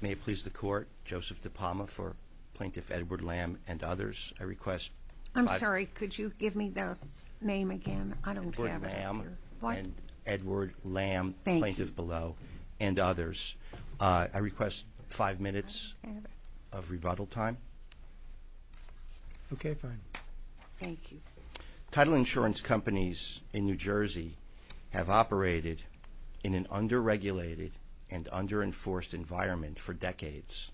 May it please the Court, Joseph DePalma for Plaintiff Edward Lamb and others. I request five minutes of rebuttal time. Okay, fine. Thank you. Title insurance companies in New Jersey have operated in an under-regulated and under-enforced environment for decades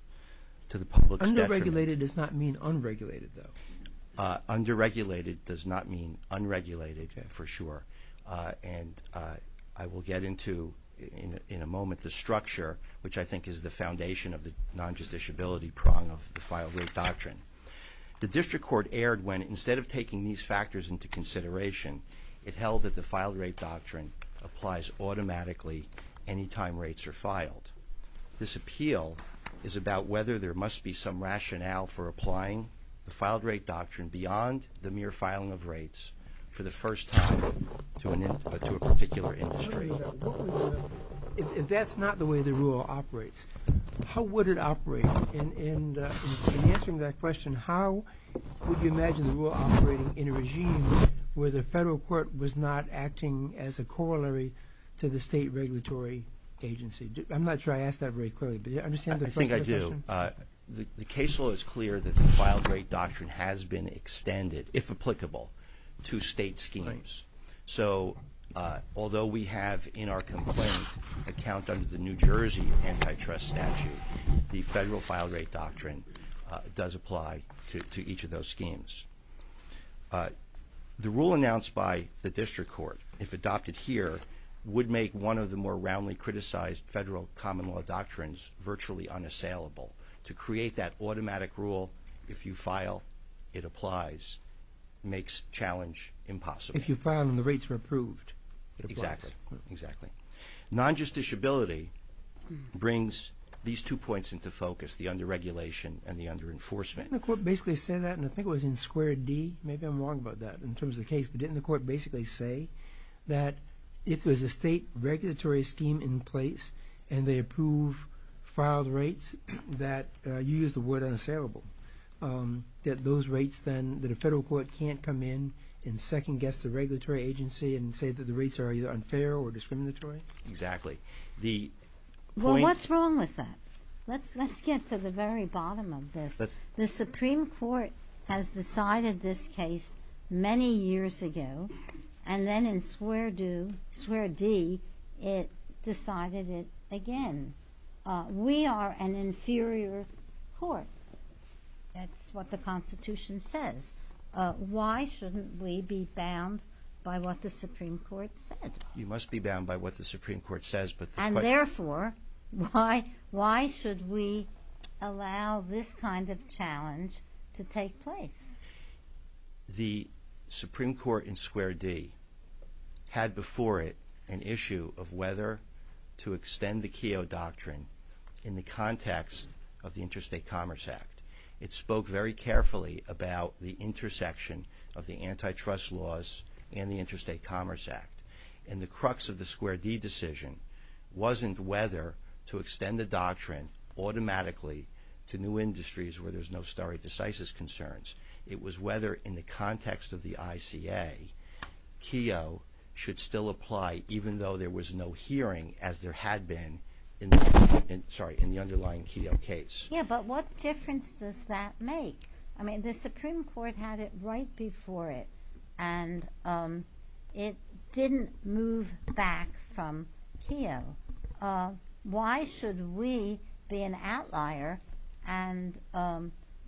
to the public's detriment. Under-regulated does not mean unregulated, though. Under-regulated does not mean unregulated, for sure. And I will get into, in a moment, the structure, which I think is the foundation of the non-judiciability prong of the filed-rate doctrine. The District Court erred when, instead of taking these factors into consideration, it held that the filed-rate doctrine applies automatically any time rates are filed. This appeal is about whether there must be some rationale for applying the filed-rate doctrine beyond the mere filing of rates for the first time to a particular industry. If that's not the way the rule operates, how would it operate? In answering that question, how would you imagine the rule operating in a regime where the federal court was not acting as a corollary to the state regulatory agency? I'm not sure I asked that very clearly, but do you understand the first question? I think I do. The case law is clear that the filed-rate doctrine has been extended, if applicable, to state schemes. So, although we have in our complaint a count under the New Jersey antitrust statute, the federal filed-rate doctrine does apply to each of those schemes. The rule announced by the District Court, if adopted here, would make one of the more roundly criticized federal common-law doctrines virtually unassailable. To create that automatic rule, if you file, it applies, makes challenge impossible. If you file and the rates are approved, it applies. Exactly. Exactly. Non-justiciability brings these two points into focus, the under-regulation and the under-enforcement. Didn't the court basically say that, and I think it was in square D, maybe I'm wrong about that, in terms of the case, but didn't the court basically say that if there's a state regulatory scheme in place and they approve filed rates that, you used the word unassailable, that those rates then, that a federal court can't come in and second-guess the regulatory agency and say that the rates are either unfair or discriminatory? Exactly. Well, what's wrong with that? Let's get to the very bottom of this. The Supreme Court has decided this case many years ago, and then in square D, it decided it again. We are an inferior court. That's what the Constitution says. Why shouldn't we be bound by what the Supreme Court said? You must be bound by what the Supreme Court says, but this question... And therefore, why should we allow this kind of challenge to take place? The Supreme Court in square D had before it an issue of whether to extend the Keogh Doctrine in the context of the Interstate Commerce Act. It spoke very carefully about the intersection of the antitrust laws and the Interstate Commerce Act, and the crux of the square D decision wasn't whether to extend the doctrine automatically to new industries where there's no stare decisis concerns. It was whether in the context of the ICA, Keogh should still apply even though there was no hearing as there had been in the underlying Keogh case. Yeah, but what difference does that make? I mean, the Supreme Court had it right before it, and it didn't move back from Keogh. Why should we be an outlier and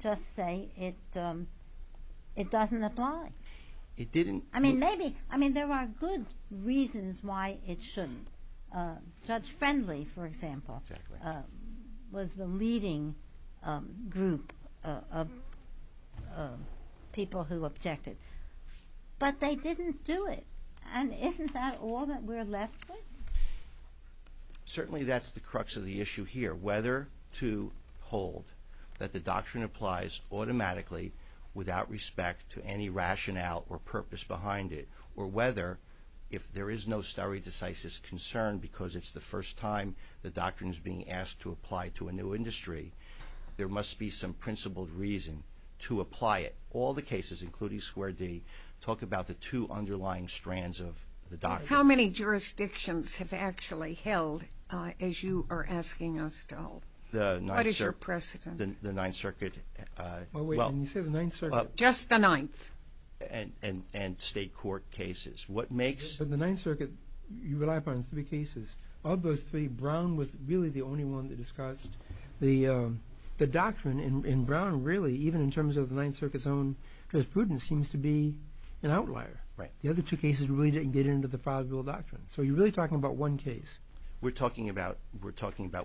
just say it doesn't apply? It didn't. I mean, there are good reasons why it shouldn't. Judge Friendly, for example, was the leading group of people who objected. But they didn't do it, and isn't that all that we're left with? Certainly that's the crux of the issue here, whether to hold that the doctrine applies automatically without respect to any rationale or purpose behind it, or whether if there is no stare decisis concern because it's the first time the doctrine is being asked to apply to a new industry, there must be some principled reason to apply it. All the cases, including square D, talk about the two underlying strands of the doctrine. How many jurisdictions have actually held as you are asking us to hold? What is your precedent? The Ninth Circuit. Well, wait, didn't you say the Ninth Circuit? Just the Ninth. And state court cases. The Ninth Circuit, you rely upon three cases. Of those three, Brown was really the only one that discussed the doctrine. And Brown, really, even in terms of the Ninth Circuit's own jurisprudence, seems to be an outlier. The other two cases really didn't get into the five-rule doctrine. So you're really talking about one case. We're talking about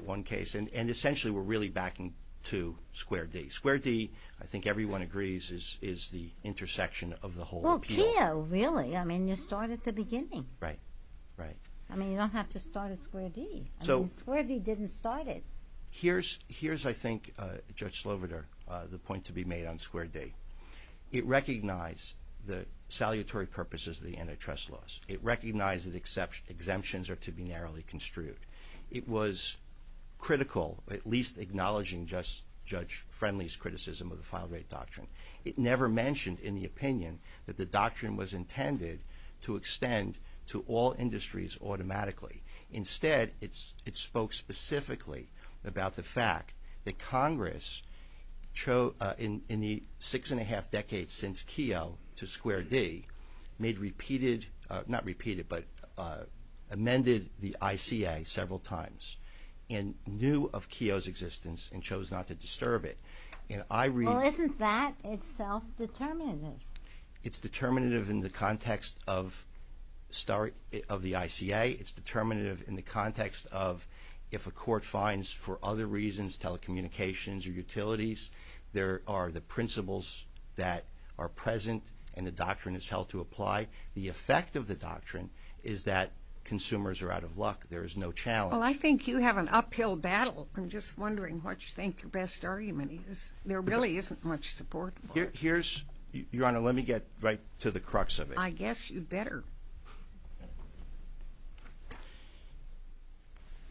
one case. And essentially we're really backing to square D. Square D, I think everyone agrees, is the intersection of the whole appeal. Well, Keogh, really. I mean, you start at the beginning. Right, right. I mean, you don't have to start at square D. I mean, square D didn't start it. Here's, I think, Judge Sloveder, the point to be made on square D. It recognized the salutary purposes of the antitrust laws. It recognized that exemptions are to be narrowly construed. It was critical, at least acknowledging Judge Friendly's criticism of the file rate doctrine. It never mentioned in the opinion that the doctrine was intended to extend to all industries automatically. Instead, it spoke specifically about the fact that Congress, in the six-and-a-half decades since Keogh to square D, made repeated, not repeated, but amended the ICA several times and knew of Keogh's existence and chose not to disturb it. Well, isn't that itself determinative? It's determinative in the context of the ICA. It's determinative in the context of if a court finds, for other reasons, telecommunications or utilities, there are the principles that are present and the doctrine is held to apply. The effect of the doctrine is that consumers are out of luck. There is no challenge. Well, I think you have an uphill battle. I'm just wondering what you think your best argument is. There really isn't much support for it. Your Honor, let me get right to the crux of it. I guess you'd better.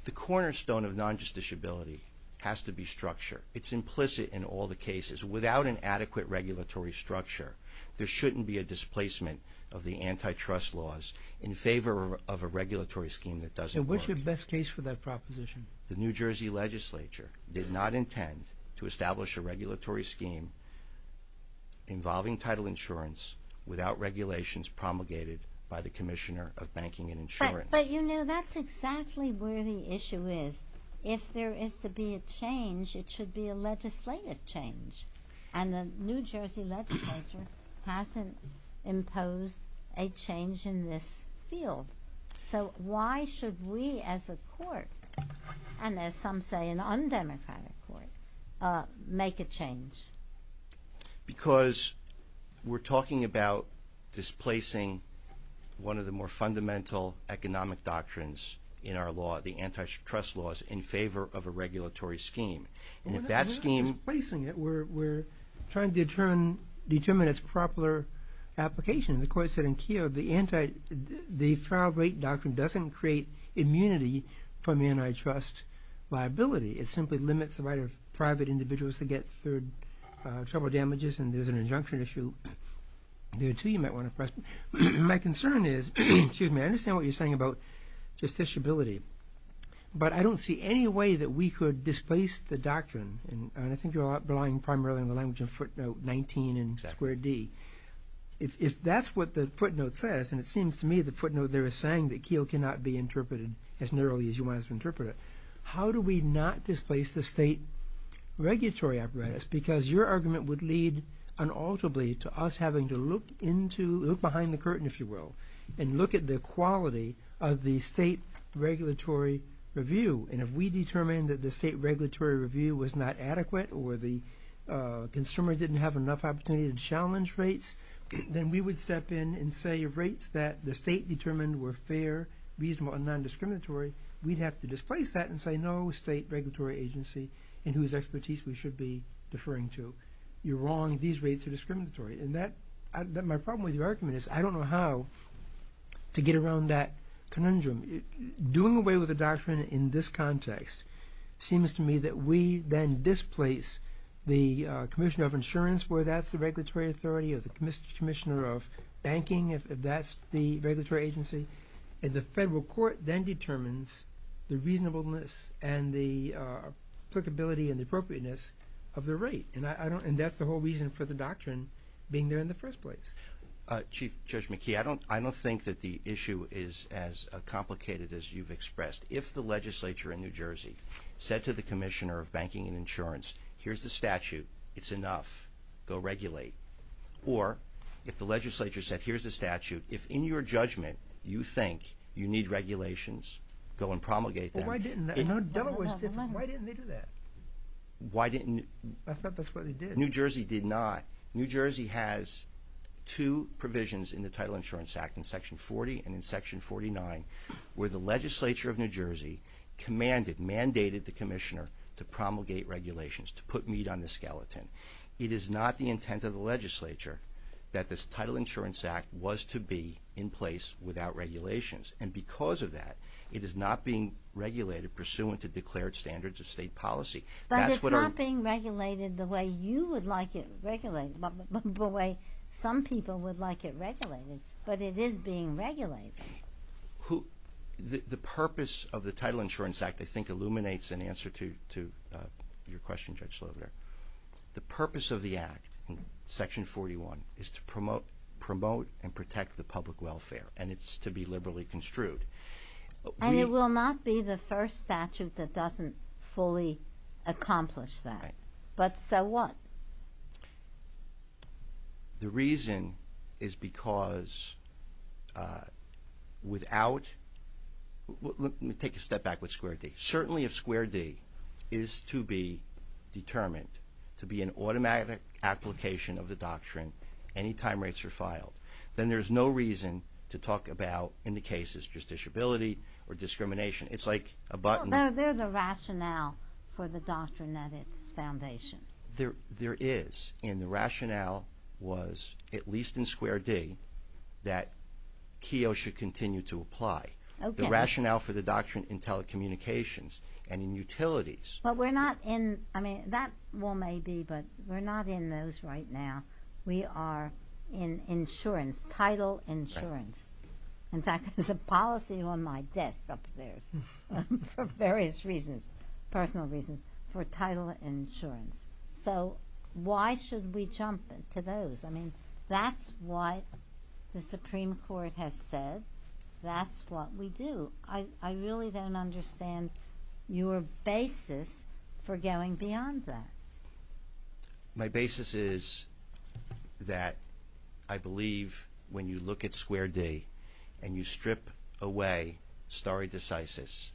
The cornerstone of non-justiciability has to be structure. It's implicit in all the cases. Without an adequate regulatory structure, there shouldn't be a displacement of the antitrust laws in favor of a regulatory scheme that doesn't work. And what's your best case for that proposition? The New Jersey legislature did not intend to establish a regulatory scheme involving title insurance without regulations promulgated by the Commissioner of Banking and Insurance. But, you know, that's exactly where the issue is. If there is to be a change, it should be a legislative change. And the New Jersey legislature hasn't imposed a change in this field. So why should we as a court, and as some say an undemocratic court, make a change? Because we're talking about displacing one of the more fundamental economic doctrines in our law, the antitrust laws, in favor of a regulatory scheme. And if that scheme… We're not really displacing it. We're trying to determine its proper application. And the court said in Keogh, the trial rate doctrine doesn't create immunity from antitrust liability. It simply limits the right of private individuals to get third trouble damages. And there's an injunction issue. There are two you might want to press. My concern is… Excuse me. I understand what you're saying about justiciability. But I don't see any way that we could displace the doctrine. And I think you're relying primarily on the language of footnote 19 in square D. If that's what the footnote says, and it seems to me the footnote there is saying that Keogh cannot be interpreted as narrowly as you want us to interpret it, how do we not displace the state regulatory apparatus? Because your argument would lead unalterably to us having to look behind the curtain, if you will, and look at the quality of the state regulatory review. And if we determine that the state regulatory review was not adequate or the consumer didn't have enough opportunity to challenge rates, then we would step in and say rates that the state determined were fair, reasonable, and non-discriminatory, we'd have to displace that and say no state regulatory agency in whose expertise we should be deferring to. You're wrong. These rates are discriminatory. And my problem with your argument is I don't know how to get around that conundrum. Doing away with the doctrine in this context seems to me that we then displace the Commissioner of Insurance, where that's the regulatory authority, or the Commissioner of Banking, if that's the regulatory agency, and the federal court then determines the reasonableness and the applicability and the appropriateness of the rate. And that's the whole reason for the doctrine being there in the first place. Chief Judge McKee, I don't think that the issue is as complicated as you've expressed. If the legislature in New Jersey said to the Commissioner of Banking and Insurance, here's the statute. It's enough. Go regulate. Or if the legislature said here's the statute, if in your judgment you think you need regulations, go and promulgate them. Why didn't they do that? I thought that's what they did. New Jersey did not. New Jersey has two provisions in the Title Insurance Act, in Section 40 and in Section 49, where the legislature of New Jersey commanded, mandated the Commissioner to promulgate regulations, to put meat on the skeleton. It is not the intent of the legislature that this Title Insurance Act was to be in place without regulations. And because of that, it is not being regulated pursuant to declared standards of state policy. But it's not being regulated the way you would like it regulated, the way some people would like it regulated. But it is being regulated. The purpose of the Title Insurance Act, I think, illuminates in answer to your question, Judge Sloviner. The purpose of the Act in Section 41 is to promote and protect the public welfare, and it's to be liberally construed. And it will not be the first statute that doesn't fully accomplish that. Right. But so what? The reason is because without – let me take a step back with Square D. Certainly if Square D is to be determined to be an automatic application of the doctrine any time rates are filed, then there's no reason to talk about in the cases just disability or discrimination. It's like a button. Well, there's a rationale for the doctrine at its foundation. There is. And the rationale was, at least in Square D, that KEO should continue to apply. Okay. The rationale for the doctrine in telecommunications and in utilities. But we're not in – I mean, that may be, but we're not in those right now. We are in insurance, title insurance. In fact, there's a policy on my desk upstairs for various reasons, personal reasons, for title insurance. So why should we jump to those? I mean, that's what the Supreme Court has said. That's what we do. I really don't understand your basis for going beyond that. My basis is that I believe when you look at Square D and you strip away stare decisis,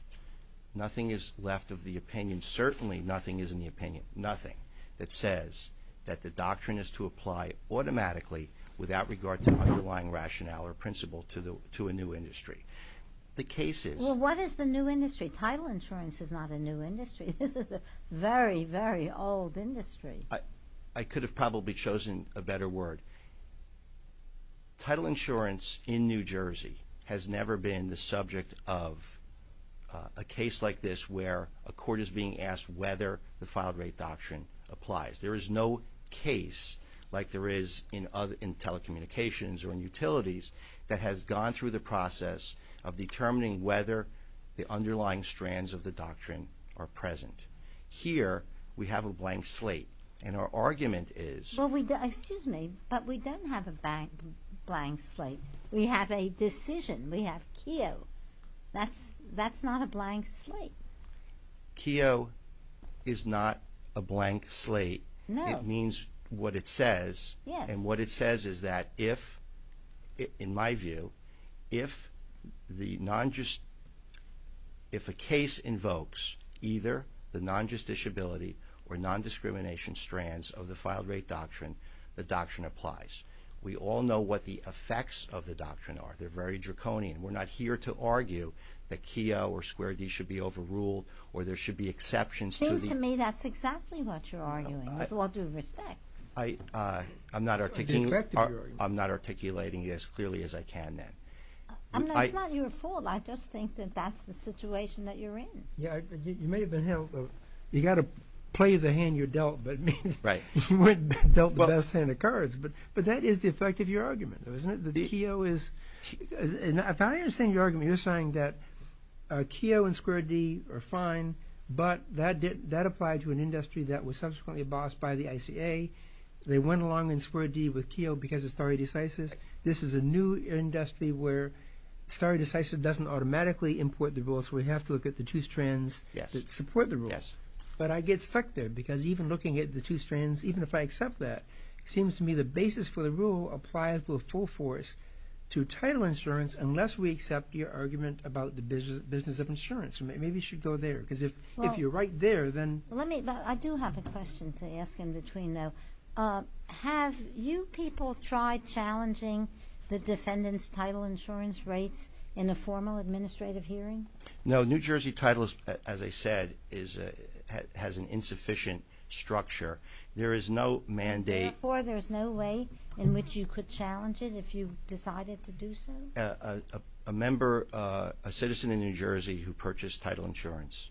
nothing is left of the opinion, certainly nothing is in the opinion, nothing, that says that the doctrine is to apply automatically without regard to underlying rationale or principle to a new industry. The case is – Well, what is the new industry? Title insurance is not a new industry. This is a very, very old industry. I could have probably chosen a better word. Title insurance in New Jersey has never been the subject of a case like this where a court is being asked whether the filed-rate doctrine applies. There is no case like there is in telecommunications or in utilities that has gone through the process of determining whether the underlying strands of the doctrine are present. Here we have a blank slate, and our argument is – Well, we – excuse me, but we don't have a blank slate. We have a decision. We have Keogh. That's not a blank slate. Keogh is not a blank slate. It means what it says. Yes. And what it says is that if, in my view, if the non-just – if a case invokes either the non-justiciability or non-discrimination strands of the filed-rate doctrine, the doctrine applies. We all know what the effects of the doctrine are. They're very draconian. We're not here to argue that Keogh or Square D should be overruled or there should be exceptions to the – Seems to me that's exactly what you're arguing, with all due respect. I'm not articulating it as clearly as I can then. It's not your fault. I just think that that's the situation that you're in. You may have been held – you've got to play the hand you're dealt, but you weren't dealt the best hand of cards. But that is the effect of your argument, isn't it, that Keogh is – if I understand your argument, you're saying that Keogh and Square D are fine, but that applied to an industry that was subsequently bossed by the ICA. They went along in Square D with Keogh because of stare decisis. This is a new industry where stare decisis doesn't automatically import the rule, so we have to look at the two strands that support the rule. But I get stuck there because even looking at the two strands, even if I accept that, it seems to me the basis for the rule applies with full force to title insurance unless we accept your argument about the business of insurance. Maybe you should go there because if you're right there, then – Let me – I do have a question to ask in between, though. Have you people tried challenging the defendant's title insurance rates in a formal administrative hearing? No. New Jersey title, as I said, has an insufficient structure. There is no mandate – Therefore, there's no way in which you could challenge it if you decided to do so? A member – a citizen in New Jersey who purchased title insurance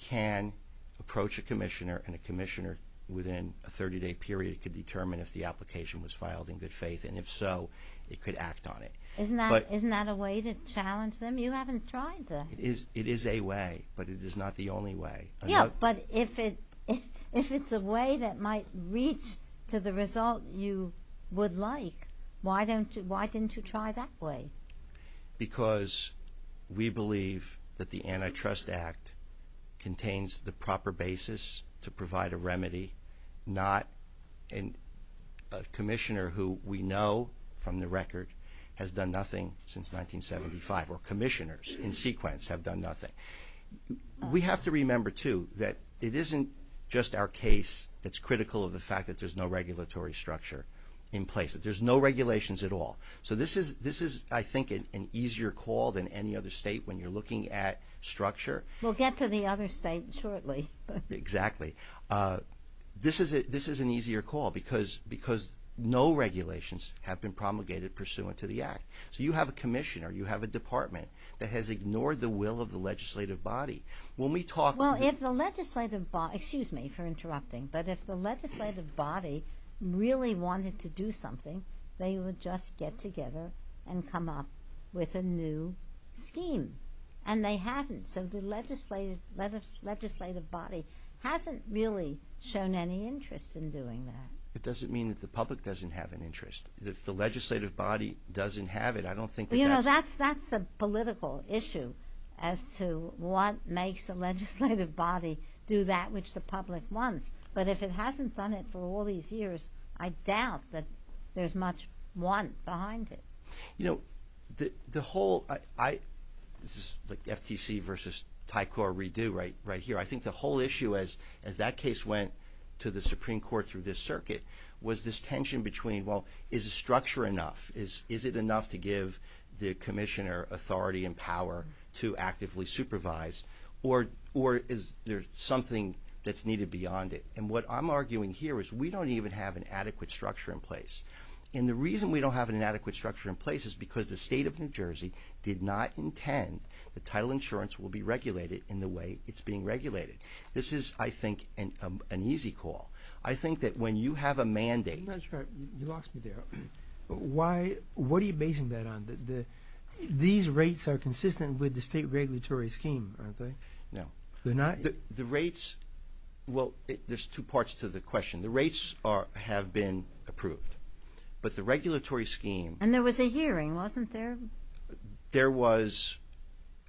can approach a commissioner, and a commissioner within a 30-day period could determine if the application was filed in good faith, and if so, it could act on it. Isn't that a way to challenge them? You haven't tried that. It is a way, but it is not the only way. Yeah, but if it's a way that might reach to the result you would like, why didn't you try that way? Because we believe that the Antitrust Act contains the proper basis to provide a remedy, not a commissioner who we know from the record has done nothing since 1975, or commissioners in sequence have done nothing. We have to remember, too, that it isn't just our case that's critical of the fact that there's no regulatory structure in place, that there's no regulations at all. So this is, I think, an easier call than any other state when you're looking at structure. We'll get to the other state shortly. Exactly. This is an easier call because no regulations have been promulgated pursuant to the Act. So you have a commissioner, you have a department that has ignored the will of the legislative body. When we talk – Excuse me for interrupting, but if the legislative body really wanted to do something, they would just get together and come up with a new scheme, and they haven't. So the legislative body hasn't really shown any interest in doing that. It doesn't mean that the public doesn't have an interest. If the legislative body doesn't have it, I don't think that that's – which the public wants. But if it hasn't done it for all these years, I doubt that there's much want behind it. You know, the whole – this is like FTC versus Tycor redo right here. I think the whole issue, as that case went to the Supreme Court through this circuit, was this tension between, well, is the structure enough? Is it enough to give the commissioner authority and power to actively supervise? Or is there something that's needed beyond it? And what I'm arguing here is we don't even have an adequate structure in place. And the reason we don't have an adequate structure in place is because the State of New Jersey did not intend that title insurance will be regulated in the way it's being regulated. This is, I think, an easy call. I think that when you have a mandate – That's right. You lost me there. Why – what are you basing that on? These rates are consistent with the state regulatory scheme, aren't they? No. They're not? The rates – well, there's two parts to the question. The rates have been approved. But the regulatory scheme – And there was a hearing, wasn't there? There was –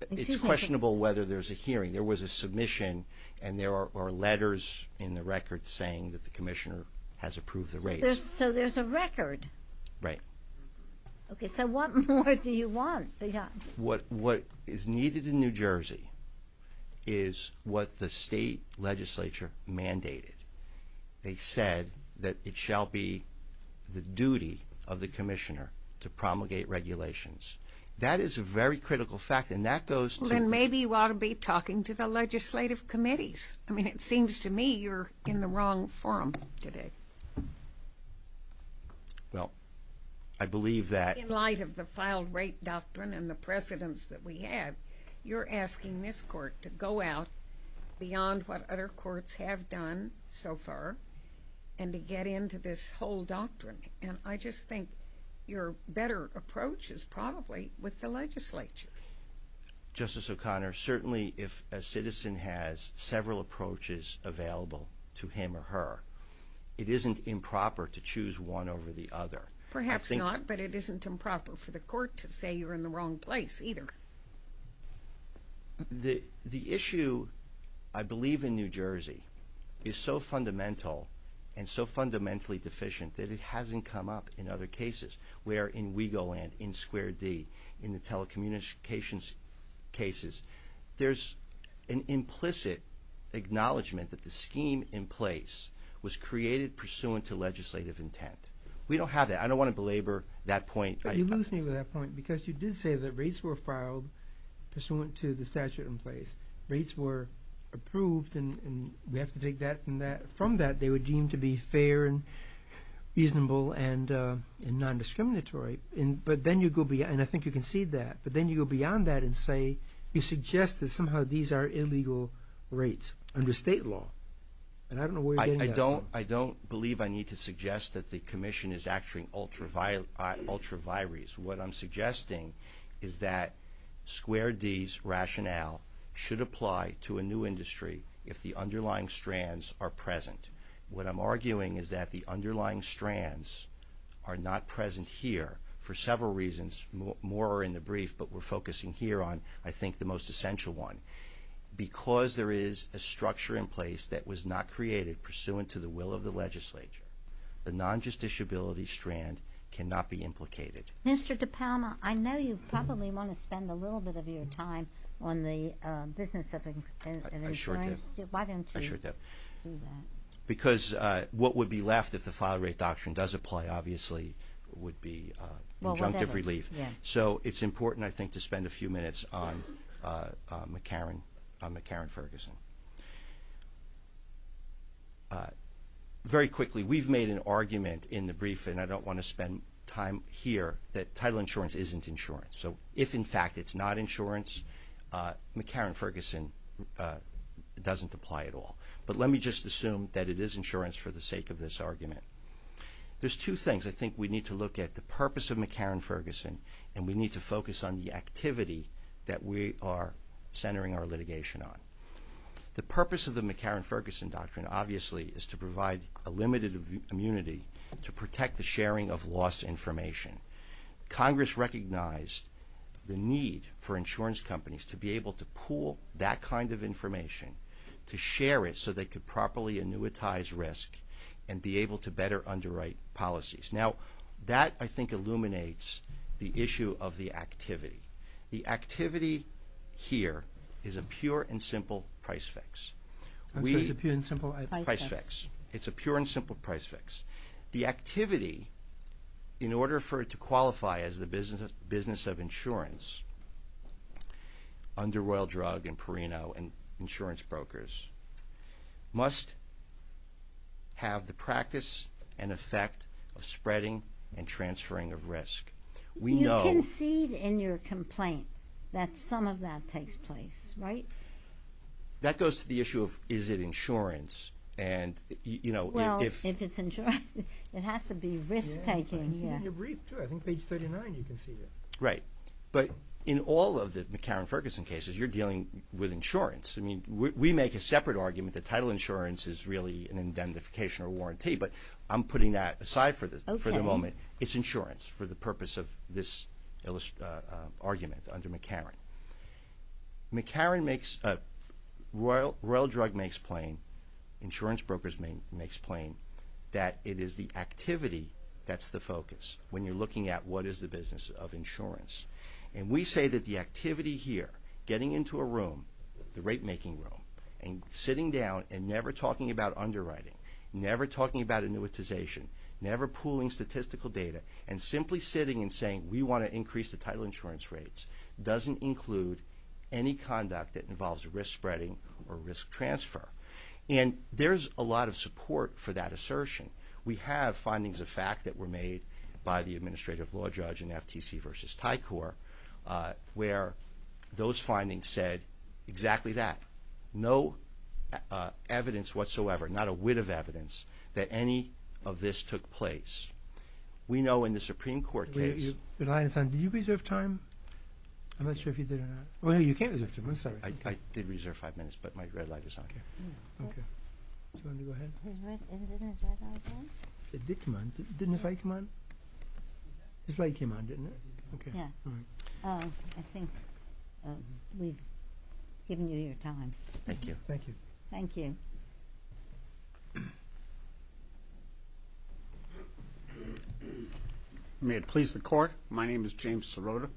it's questionable whether there's a hearing. There was a submission, and there are letters in the record saying that the commissioner has approved the rates. So there's a record. Right. Okay. So what more do you want? What is needed in New Jersey is what the state legislature mandated. They said that it shall be the duty of the commissioner to promulgate regulations. That is a very critical fact, and that goes to – Well, then maybe you ought to be talking to the legislative committees. I mean, it seems to me you're in the wrong forum today. Well, I believe that – In light of the filed rate doctrine and the precedents that we have, you're asking this court to go out beyond what other courts have done so far and to get into this whole doctrine. And I just think your better approach is probably with the legislature. Justice O'Connor, certainly if a citizen has several approaches available to him or her, it isn't improper to choose one over the other. Perhaps not, but it isn't improper for the court to say you're in the wrong place either. The issue, I believe, in New Jersey is so fundamental and so fundamentally deficient that it hasn't come up in other cases. Where in Wigoland, in Square D, in the telecommunications cases, there's an implicit acknowledgement that the scheme in place was created pursuant to legislative intent. We don't have that. I don't want to belabor that point. But you lose me with that point because you did say that rates were filed pursuant to the statute in place. Rates were approved, and we have to take that from that. They were deemed to be fair and reasonable and non-discriminatory. But then you go beyond – and I think you concede that. But then you go beyond that and say you suggest that somehow these are illegal rates under state law. And I don't know where you're getting at. I don't believe I need to suggest that the Commission is actuating ultra vires. What I'm suggesting is that Square D's rationale should apply to a new industry if the underlying strands are present. What I'm arguing is that the underlying strands are not present here for several reasons. More are in the brief, but we're focusing here on, I think, the most essential one. Because there is a structure in place that was not created pursuant to the will of the legislature, the non-justiciability strand cannot be implicated. Mr. DePalma, I know you probably want to spend a little bit of your time on the business of insurance. I sure do. Why don't you do that? Because what would be left if the file rate doctrine does apply, obviously, would be injunctive relief. So it's important, I think, to spend a few minutes on McCarran-Ferguson. Very quickly, we've made an argument in the brief, and I don't want to spend time here, that title insurance isn't insurance. So if, in fact, it's not insurance, McCarran-Ferguson doesn't apply at all. But let me just assume that it is insurance for the sake of this argument. There's two things I think we need to look at. The purpose of McCarran-Ferguson, and we need to focus on the activity that we are centering our litigation on. The purpose of the McCarran-Ferguson doctrine, obviously, is to provide a limited immunity to protect the sharing of lost information. Congress recognized the need for insurance companies to be able to pool that kind of information, to share it so they could properly annuitize risk and be able to better underwrite policies. Now, that, I think, illuminates the issue of the activity. The activity here is a pure and simple price fix. Price fix. It's a pure and simple price fix. The activity, in order for it to qualify as the business of insurance, under Royal Drug and Perino and insurance brokers, must have the practice and effect of spreading and transferring of risk. We know... You concede in your complaint that some of that takes place, right? That goes to the issue of is it insurance, and, you know, if... Well, if it's insurance, it has to be risk-taking, yeah. I see it in your brief, too. I think page 39 you concede it. Right. But in all of the McCarran-Ferguson cases, you're dealing with insurance. I mean, we make a separate argument that title insurance is really an indemnification or warranty, but I'm putting that aside for the moment. It's insurance for the purpose of this argument under McCarran. McCarran makes... Royal Drug makes plain, insurance brokers make plain, that it is the activity that's the focus when you're looking at what is the business of insurance. And we say that the activity here, getting into a room, the rate-making room, and sitting down and never talking about underwriting, never talking about annuitization, never pooling statistical data, and simply sitting and saying we want to increase the title insurance rates doesn't include any conduct that involves risk-spreading or risk-transfer. And there's a lot of support for that assertion. We have findings of fact that were made by the administrative law judge in FTC v. Tycor where those findings said exactly that. No evidence whatsoever, not a whit of evidence, that any of this took place. We know in the Supreme Court case... Your light is on. Did you reserve time? I'm not sure if you did or not. Well, you can't reserve time. I'm sorry. I did reserve five minutes, but my red light is on. Okay. Do you want me to go ahead? Isn't his red light on? It did come on. Didn't his light come on? His light came on, didn't it? Yeah. All right. I think we've given you your time. Thank you. Thank you. Thank you. May it please the Court, my name is James Sirota.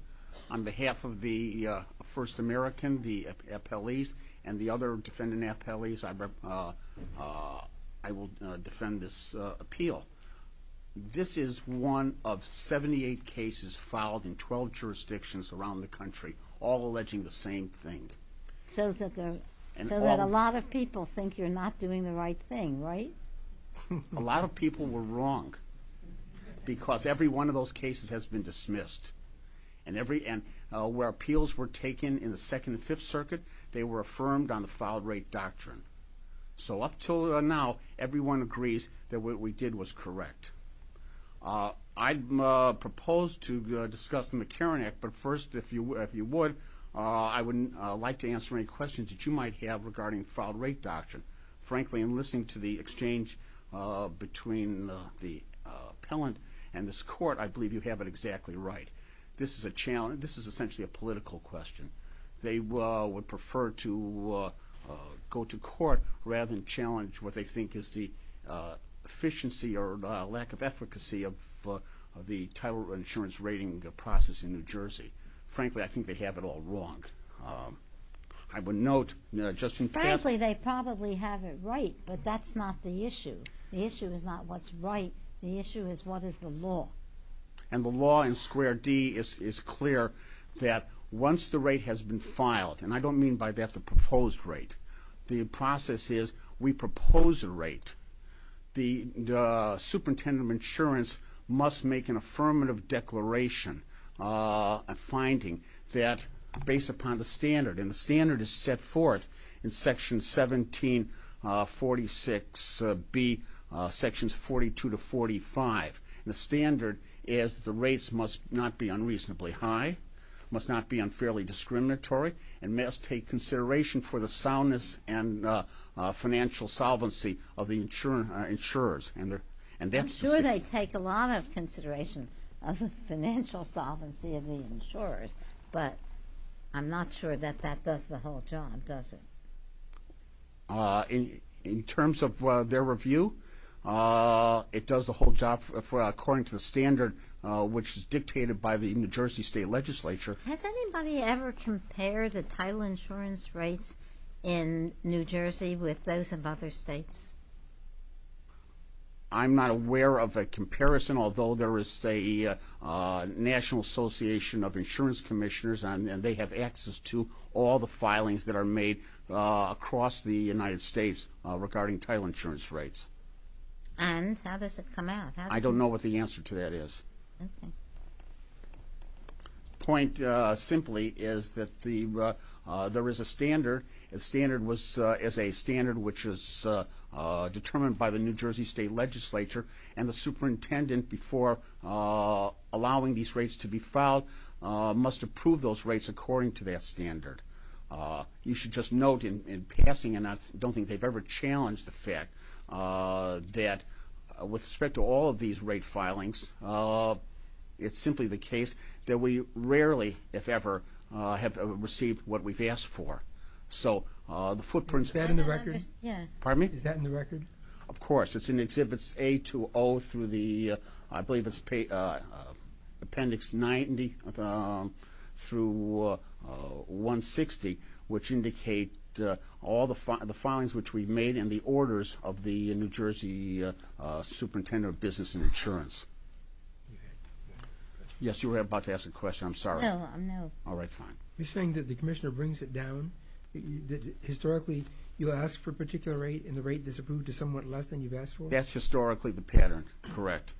On behalf of the First American, the appellees, and the other defendant appellees, I will defend this appeal. This is one of 78 cases filed in 12 jurisdictions around the country, all alleging the same thing. So that a lot of people think you're not doing the right thing, right? A lot of people were wrong because every one of those cases has been dismissed. And where appeals were taken in the Second and Fifth Circuit, they were affirmed on the Fouled Rate Doctrine. So up until now, everyone agrees that what we did was correct. I propose to discuss the McCarran Act, but first, if you would, I would like to answer any questions that you might have regarding Fouled Rate Doctrine. Frankly, in listening to the exchange between the appellant and this Court, I believe you have it exactly right. This is a challenge. This is essentially a political question. They would prefer to go to court rather than challenge what they think is the efficiency or lack of efficacy of the title insurance rating process in New Jersey. Frankly, I think they have it all wrong. I would note just in passing. Frankly, they probably have it right, but that's not the issue. The issue is not what's right. The issue is what is the law. And the law in Square D is clear that once the rate has been filed, and I don't mean by that the proposed rate. The process is we propose a rate. The superintendent of insurance must make an affirmative declaration, a finding that based upon the standard, and the standard is set forth in Section 1746B, Sections 42 to 45. The standard is the rates must not be unreasonably high, must not be unfairly discriminatory, and must take consideration for the soundness and financial solvency of the insurers. I'm sure they take a lot of consideration of the financial solvency of the insurers, but I'm not sure that that does the whole job, does it? In terms of their review, it does the whole job according to the standard, which is dictated by the New Jersey State Legislature. Has anybody ever compared the title insurance rates in New Jersey with those of other states? I'm not aware of a comparison, although there is a National Association of Insurance Commissioners, and they have access to all the filings that are made across the United States regarding title insurance rates. And how does it come out? I don't know what the answer to that is. The point simply is that there is a standard. The standard is a standard which is determined by the New Jersey State Legislature, and the superintendent before allowing these rates to be filed must approve those rates according to that standard. You should just note in passing, and I don't think they've ever challenged the fact, that with respect to all of these rate filings, it's simply the case that we rarely, if ever, have received what we've asked for. Is that in the record? Pardon me? Is that in the record? Of course. It's in Exhibits A to O through the, I believe it's Appendix 90 through 160, which indicate all the filings which we've made and the orders of the New Jersey Superintendent of Business and Insurance. Yes, you were about to ask a question. I'm sorry. No, no. All right, fine. You're saying that the commissioner brings it down? Historically, you'll ask for a particular rate, and the rate is approved to somewhat less than you've asked for? That's historically the pattern, correct.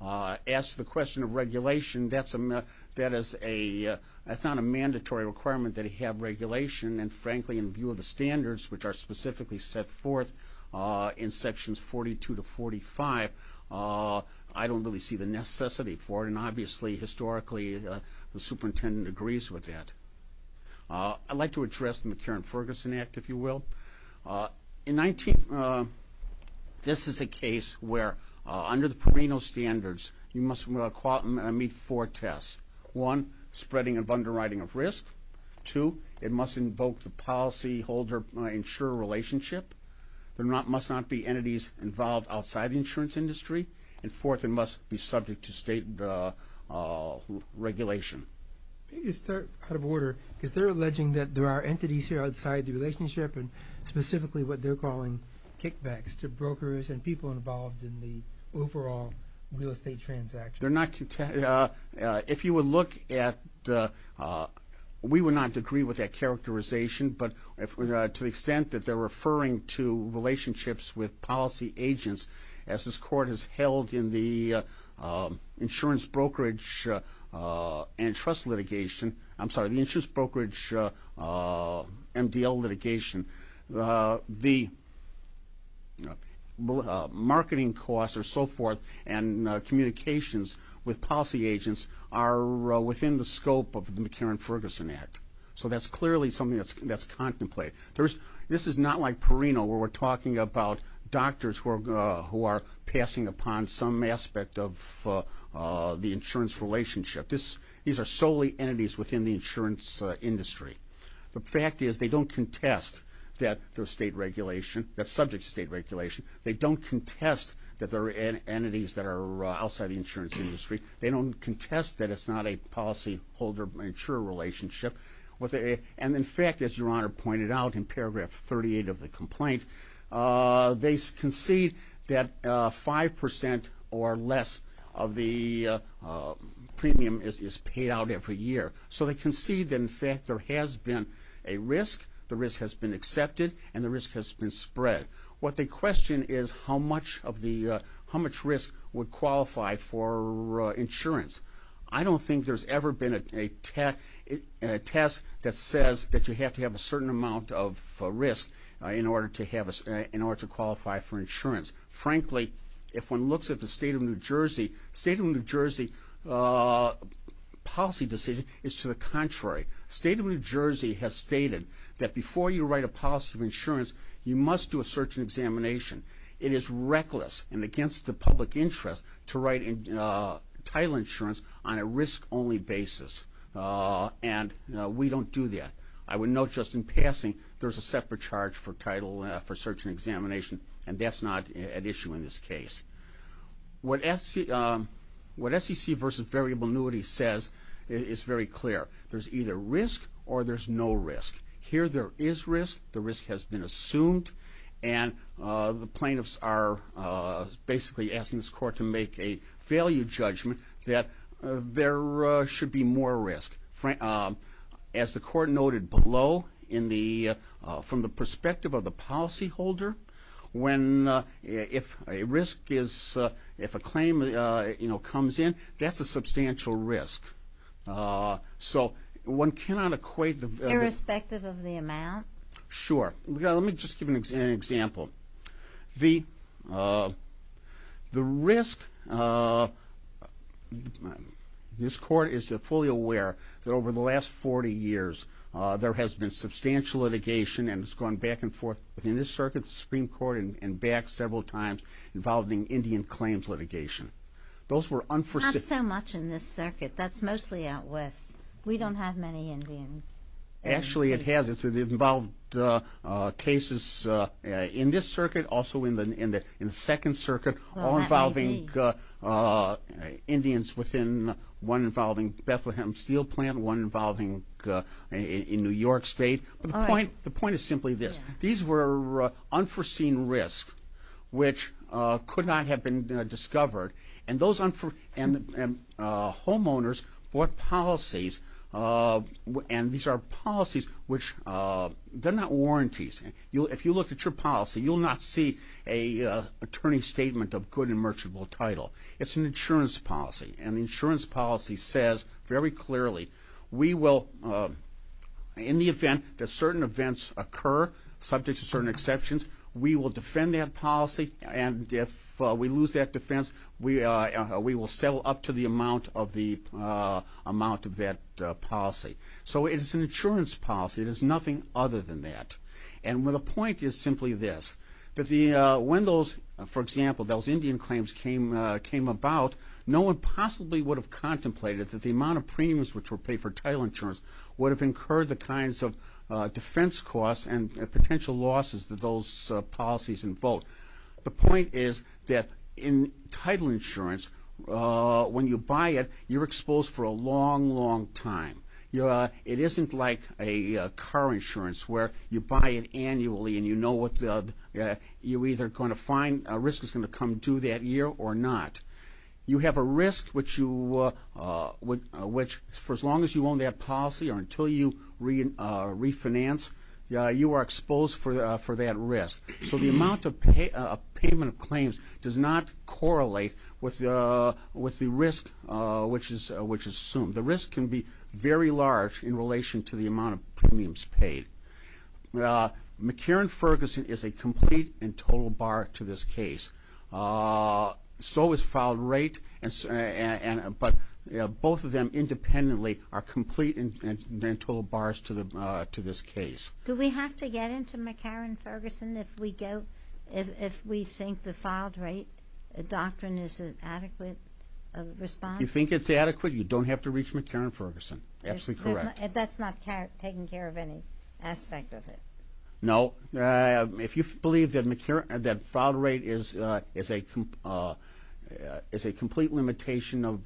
As to the question of regulation, that's not a mandatory requirement that you have regulation, and frankly, in view of the standards which are specifically set forth in Sections 42 to 45, I don't really see the necessity for it, and obviously, historically, the superintendent agrees with that. I'd like to address the McCarran-Ferguson Act, if you will. In 19th, this is a case where, under the Perino standards, you must meet four tests. One, spreading of underwriting of risk. Two, it must invoke the policyholder-insurer relationship. There must not be entities involved outside the insurance industry. And fourth, it must be subject to state regulation. If I could start out of order, because they're alleging that there are entities here outside the relationship, and specifically what they're calling kickbacks to brokers and people involved in the overall real estate transaction. They're not – if you would look at – we would not agree with that characterization, but to the extent that they're referring to relationships with policy agents, as this court has held in the insurance brokerage and trust litigation – I'm sorry, the insurance brokerage MDL litigation, the marketing costs and so forth and communications with policy agents are within the scope of the McCarran-Ferguson Act. So that's clearly something that's contemplated. This is not like Perino, where we're talking about doctors who are passing upon some aspect of the insurance relationship. These are solely entities within the insurance industry. The fact is they don't contest that there's state regulation, that's subject to state regulation. They don't contest that there are entities that are outside the insurance industry. They don't contest that it's not a policyholder-insurer relationship. And, in fact, as Your Honor pointed out in paragraph 38 of the complaint, they concede that 5 percent or less of the premium is paid out every year. So they concede that, in fact, there has been a risk, the risk has been accepted, and the risk has been spread. What they question is how much risk would qualify for insurance. I don't think there's ever been a test that says that you have to have a certain amount of risk in order to qualify for insurance. Frankly, if one looks at the state of New Jersey, the state of New Jersey policy decision is to the contrary. The state of New Jersey has stated that before you write a policy of insurance, you must do a search and examination. It is reckless and against the public interest to write title insurance on a risk-only basis. And we don't do that. I would note just in passing there's a separate charge for title, for search and examination, and that's not at issue in this case. What SEC v. Variable Annuity says is very clear. There's either risk or there's no risk. Here there is risk. The risk has been assumed. And the plaintiffs are basically asking this court to make a value judgment that there should be more risk. As the court noted below, from the perspective of the policyholder, if a claim comes in, that's a substantial risk. So one cannot equate the- Irrespective of the amount? Sure. Let me just give an example. The risk, this court is fully aware that over the last 40 years there has been substantial litigation, and it's gone back and forth within this circuit, the Supreme Court, and back several times involving Indian claims litigation. Those were unforeseen. Not so much in this circuit. That's mostly out west. We don't have many Indian- Actually, it has. It's involved cases in this circuit, also in the Second Circuit, all involving Indians within one involving Bethlehem Steel Plant, one involving in New York State. But the point is simply this. These were unforeseen risks which could not have been discovered, and homeowners bought policies, and these are policies which-they're not warranties. If you look at your policy, you'll not see an attorney's statement of good and merchantable title. It's an insurance policy, and the insurance policy says very clearly, we will, in the event that certain events occur, subject to certain exceptions, we will defend that policy, and if we lose that defense, we will settle up to the amount of that policy. So it is an insurance policy. It is nothing other than that. And the point is simply this, that when those, for example, those Indian claims came about, no one possibly would have contemplated that the amount of premiums which were paid for title insurance would have incurred the kinds of defense costs and potential losses that those policies invoked. The point is that in title insurance, when you buy it, you're exposed for a long, long time. It isn't like a car insurance where you buy it annually, and you know what the-you're either going to find a risk that's going to come due that year or not. You have a risk which you-which for as long as you own that policy or until you refinance, you are exposed for that risk. So the amount of payment of claims does not correlate with the risk which is assumed. The risk can be very large in relation to the amount of premiums paid. McCarran-Ferguson is a complete and total bar to this case. So is filed rate, but both of them independently are complete and total bars to this case. Do we have to get into McCarran-Ferguson if we go-if we think the filed rate doctrine is an adequate response? If you think it's adequate, you don't have to reach McCarran-Ferguson. Absolutely correct. That's not taking care of any aspect of it? No. If you believe that McCarran-that filed rate is a complete limitation of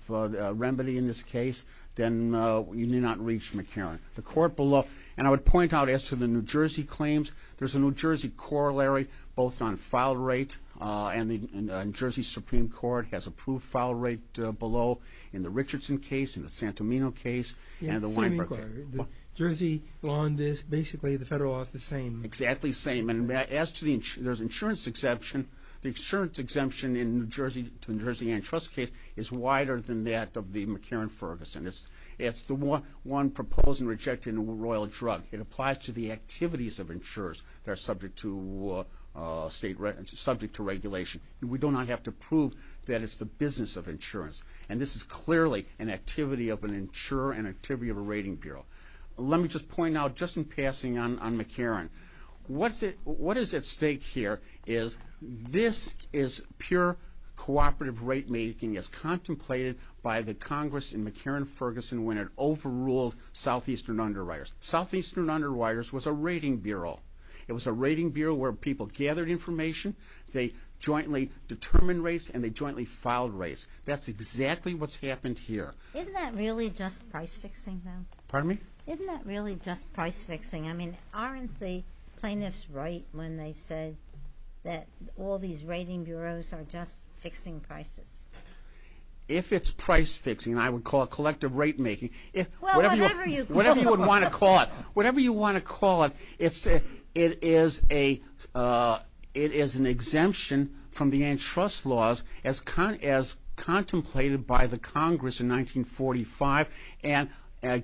remedy in this case, then you need not reach McCarran. The court below-and I would point out as to the New Jersey claims, there's a New Jersey corollary both on filed rate, and the New Jersey Supreme Court has approved filed rate below in the Richardson case, in the Santomino case, and the Weinberg case. The New Jersey law in this-basically the federal law is the same? Exactly the same. And as to the-there's insurance exemption. The insurance exemption in the New Jersey Antitrust case is wider than that of the McCarran-Ferguson. It's the one proposing rejecting a royal drug. It applies to the activities of insurers that are subject to state-subject to regulation. And this is clearly an activity of an insurer, an activity of a rating bureau. Let me just point out, just in passing on McCarran, what is at stake here is this is pure cooperative rate making as contemplated by the Congress in McCarran-Ferguson when it overruled Southeastern Underwriters. Southeastern Underwriters was a rating bureau. It was a rating bureau where people gathered information, they jointly determined rates, and they jointly filed rates. That's exactly what's happened here. Isn't that really just price-fixing, though? Pardon me? Isn't that really just price-fixing? I mean, aren't the plaintiffs right when they say that all these rating bureaus are just fixing prices? If it's price-fixing, I would call it collective rate making. Well, whatever you call it. Whatever you would want to call it. Whatever you want to call it, it is an exemption from the antitrust laws as contemplated by the Congress in 1945, and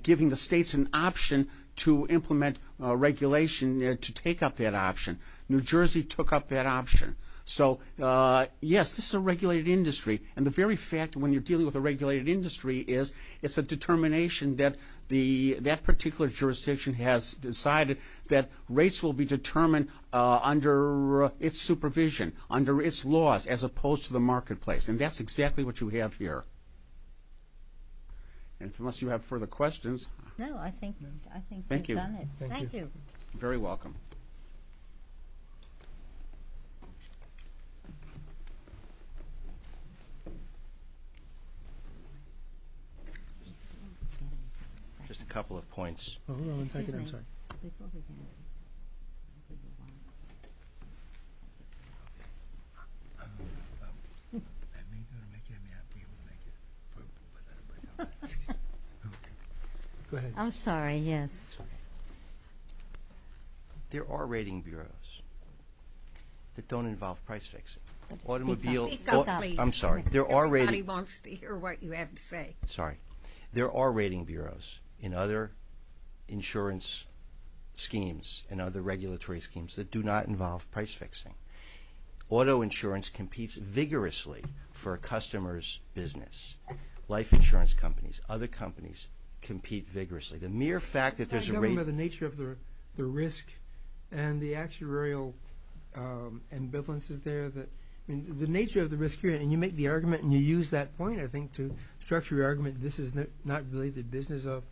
giving the states an option to implement regulation to take up that option. New Jersey took up that option. So, yes, this is a regulated industry, and the very fact when you're dealing with a regulated industry is it's a determination that that particular jurisdiction has decided that rates will be determined under its supervision, under its laws, as opposed to the marketplace, and that's exactly what you have here. Unless you have further questions. No, I think we've done it. Thank you. Thank you. You're very welcome. Just a couple of points. Go ahead. I'm sorry, yes. There are rating bureaus that don't involve price-fixing. Speak up, please. I'm sorry. Everybody wants to hear what you have to say. Sorry. There are rating bureaus in other insurance schemes and other regulatory schemes that do not involve price-fixing. Auto insurance competes vigorously for a customer's business. Life insurance companies, other companies compete vigorously. The mere fact that there's a rate- I don't remember the nature of the risk and the actuarial ambivalences there. The nature of the risk here, and you make the argument, and you use that point, I think, to structure your argument, this is not really the business of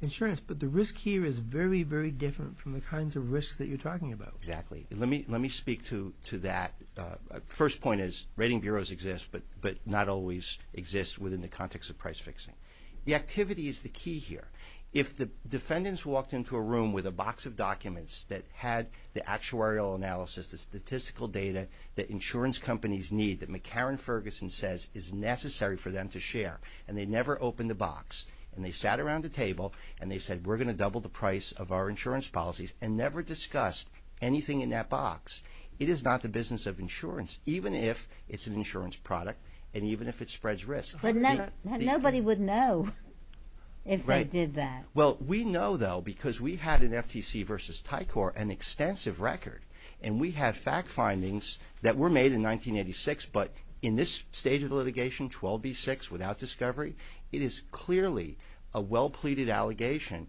insurance. But the risk here is very, very different from the kinds of risks that you're talking about. Exactly. Let me speak to that. The first point is rating bureaus exist, but not always exist within the context of price-fixing. The activity is the key here. If the defendants walked into a room with a box of documents that had the actuarial analysis, the statistical data that insurance companies need, that McCarron Ferguson says is necessary for them to share, and they never opened the box, and they sat around the table, and they said, we're going to double the price of our insurance policies, and never discussed anything in that box, it is not the business of insurance, even if it's an insurance product, and even if it spreads risk. But nobody would know if they did that. Right. Well, we know, though, because we had in FTC v. Tycor an extensive record, and we had fact findings that were made in 1986, but in this stage of the litigation, 12b-6, without discovery, it is clearly a well-pleaded allegation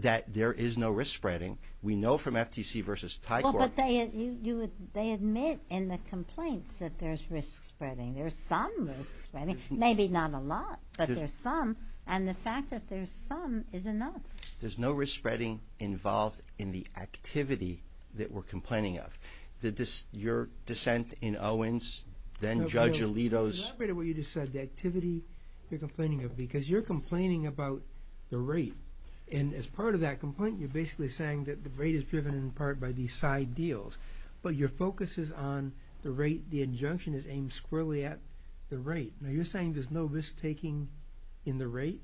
that there is no risk spreading. We know from FTC v. Tycor. Well, but they admit in the complaints that there's risk spreading. There's some risk spreading. Maybe not a lot, but there's some, and the fact that there's some is enough. There's no risk spreading involved in the activity that we're complaining of. Your dissent in Owens, then Judge Alito's. Elaborate on what you just said, the activity you're complaining of, because you're complaining about the rate, and as part of that complaint you're basically saying that the rate is driven in part by these side deals, but your focus is on the rate, the injunction is aimed squarely at the rate. Now, you're saying there's no risk taking in the rate?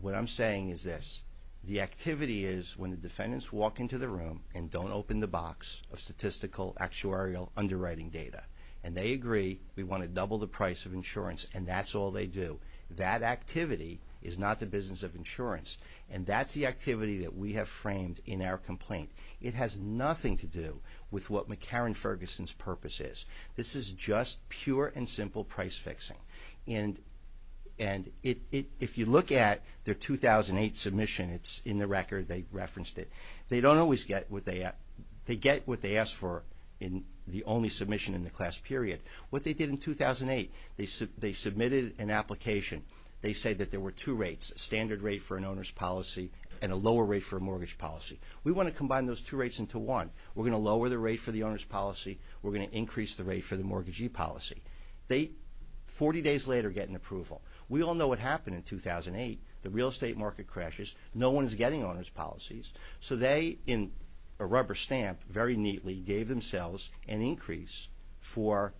What I'm saying is this. The activity is when the defendants walk into the room and don't open the box of statistical actuarial underwriting data, and they agree we want to double the price of insurance, and that's all they do. That activity is not the business of insurance, and that's the activity that we have framed in our complaint. It has nothing to do with what McCarran-Ferguson's purpose is. This is just pure and simple price fixing, and if you look at their 2008 submission, it's in the record. They referenced it. They don't always get what they ask for in the only submission in the class period. What they did in 2008, they submitted an application. They said that there were two rates, a standard rate for an owner's policy and a lower rate for a mortgage policy. We want to combine those two rates into one. We're going to lower the rate for the owner's policy. We're going to increase the rate for the mortgagee policy. They, 40 days later, get an approval. We all know what happened in 2008. The real estate market crashes. No one is getting owner's policies. So they, in a rubber stamp, very neatly gave themselves an increase for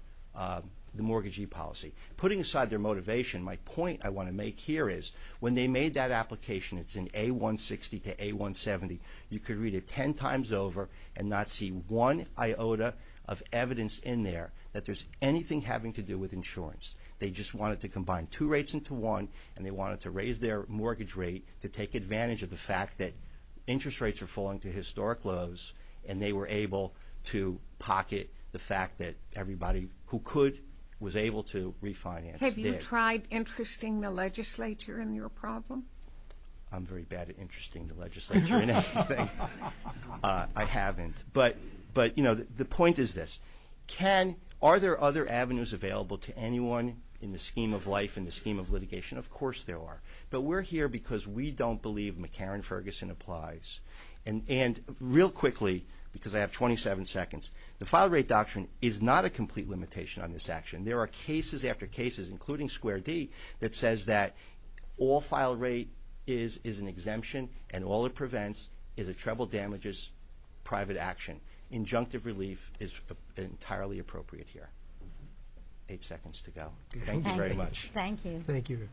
the mortgagee policy. Putting aside their motivation, my point I want to make here is when they made that application, it's in A160 to A170, you could read it 10 times over and not see one iota of evidence in there that there's anything having to do with insurance. They just wanted to combine two rates into one, and they wanted to raise their mortgage rate to take advantage of the fact that interest rates are falling to historic lows, and they were able to pocket the fact that everybody who could was able to refinance. Have you tried interesting the legislature in your problem? I'm very bad at interesting the legislature in anything. I haven't. But, you know, the point is this. Are there other avenues available to anyone in the scheme of life, in the scheme of litigation? Of course there are. But we're here because we don't believe McCarran-Ferguson applies. And real quickly, because I have 27 seconds, the file rate doctrine is not a complete limitation on this action. There are cases after cases, including Square D, that says that all file rate is is an exemption, and all it prevents is a treble damages private action. Injunctive relief is entirely appropriate here. Eight seconds to go. Thank you very much. Thank you. Thank you.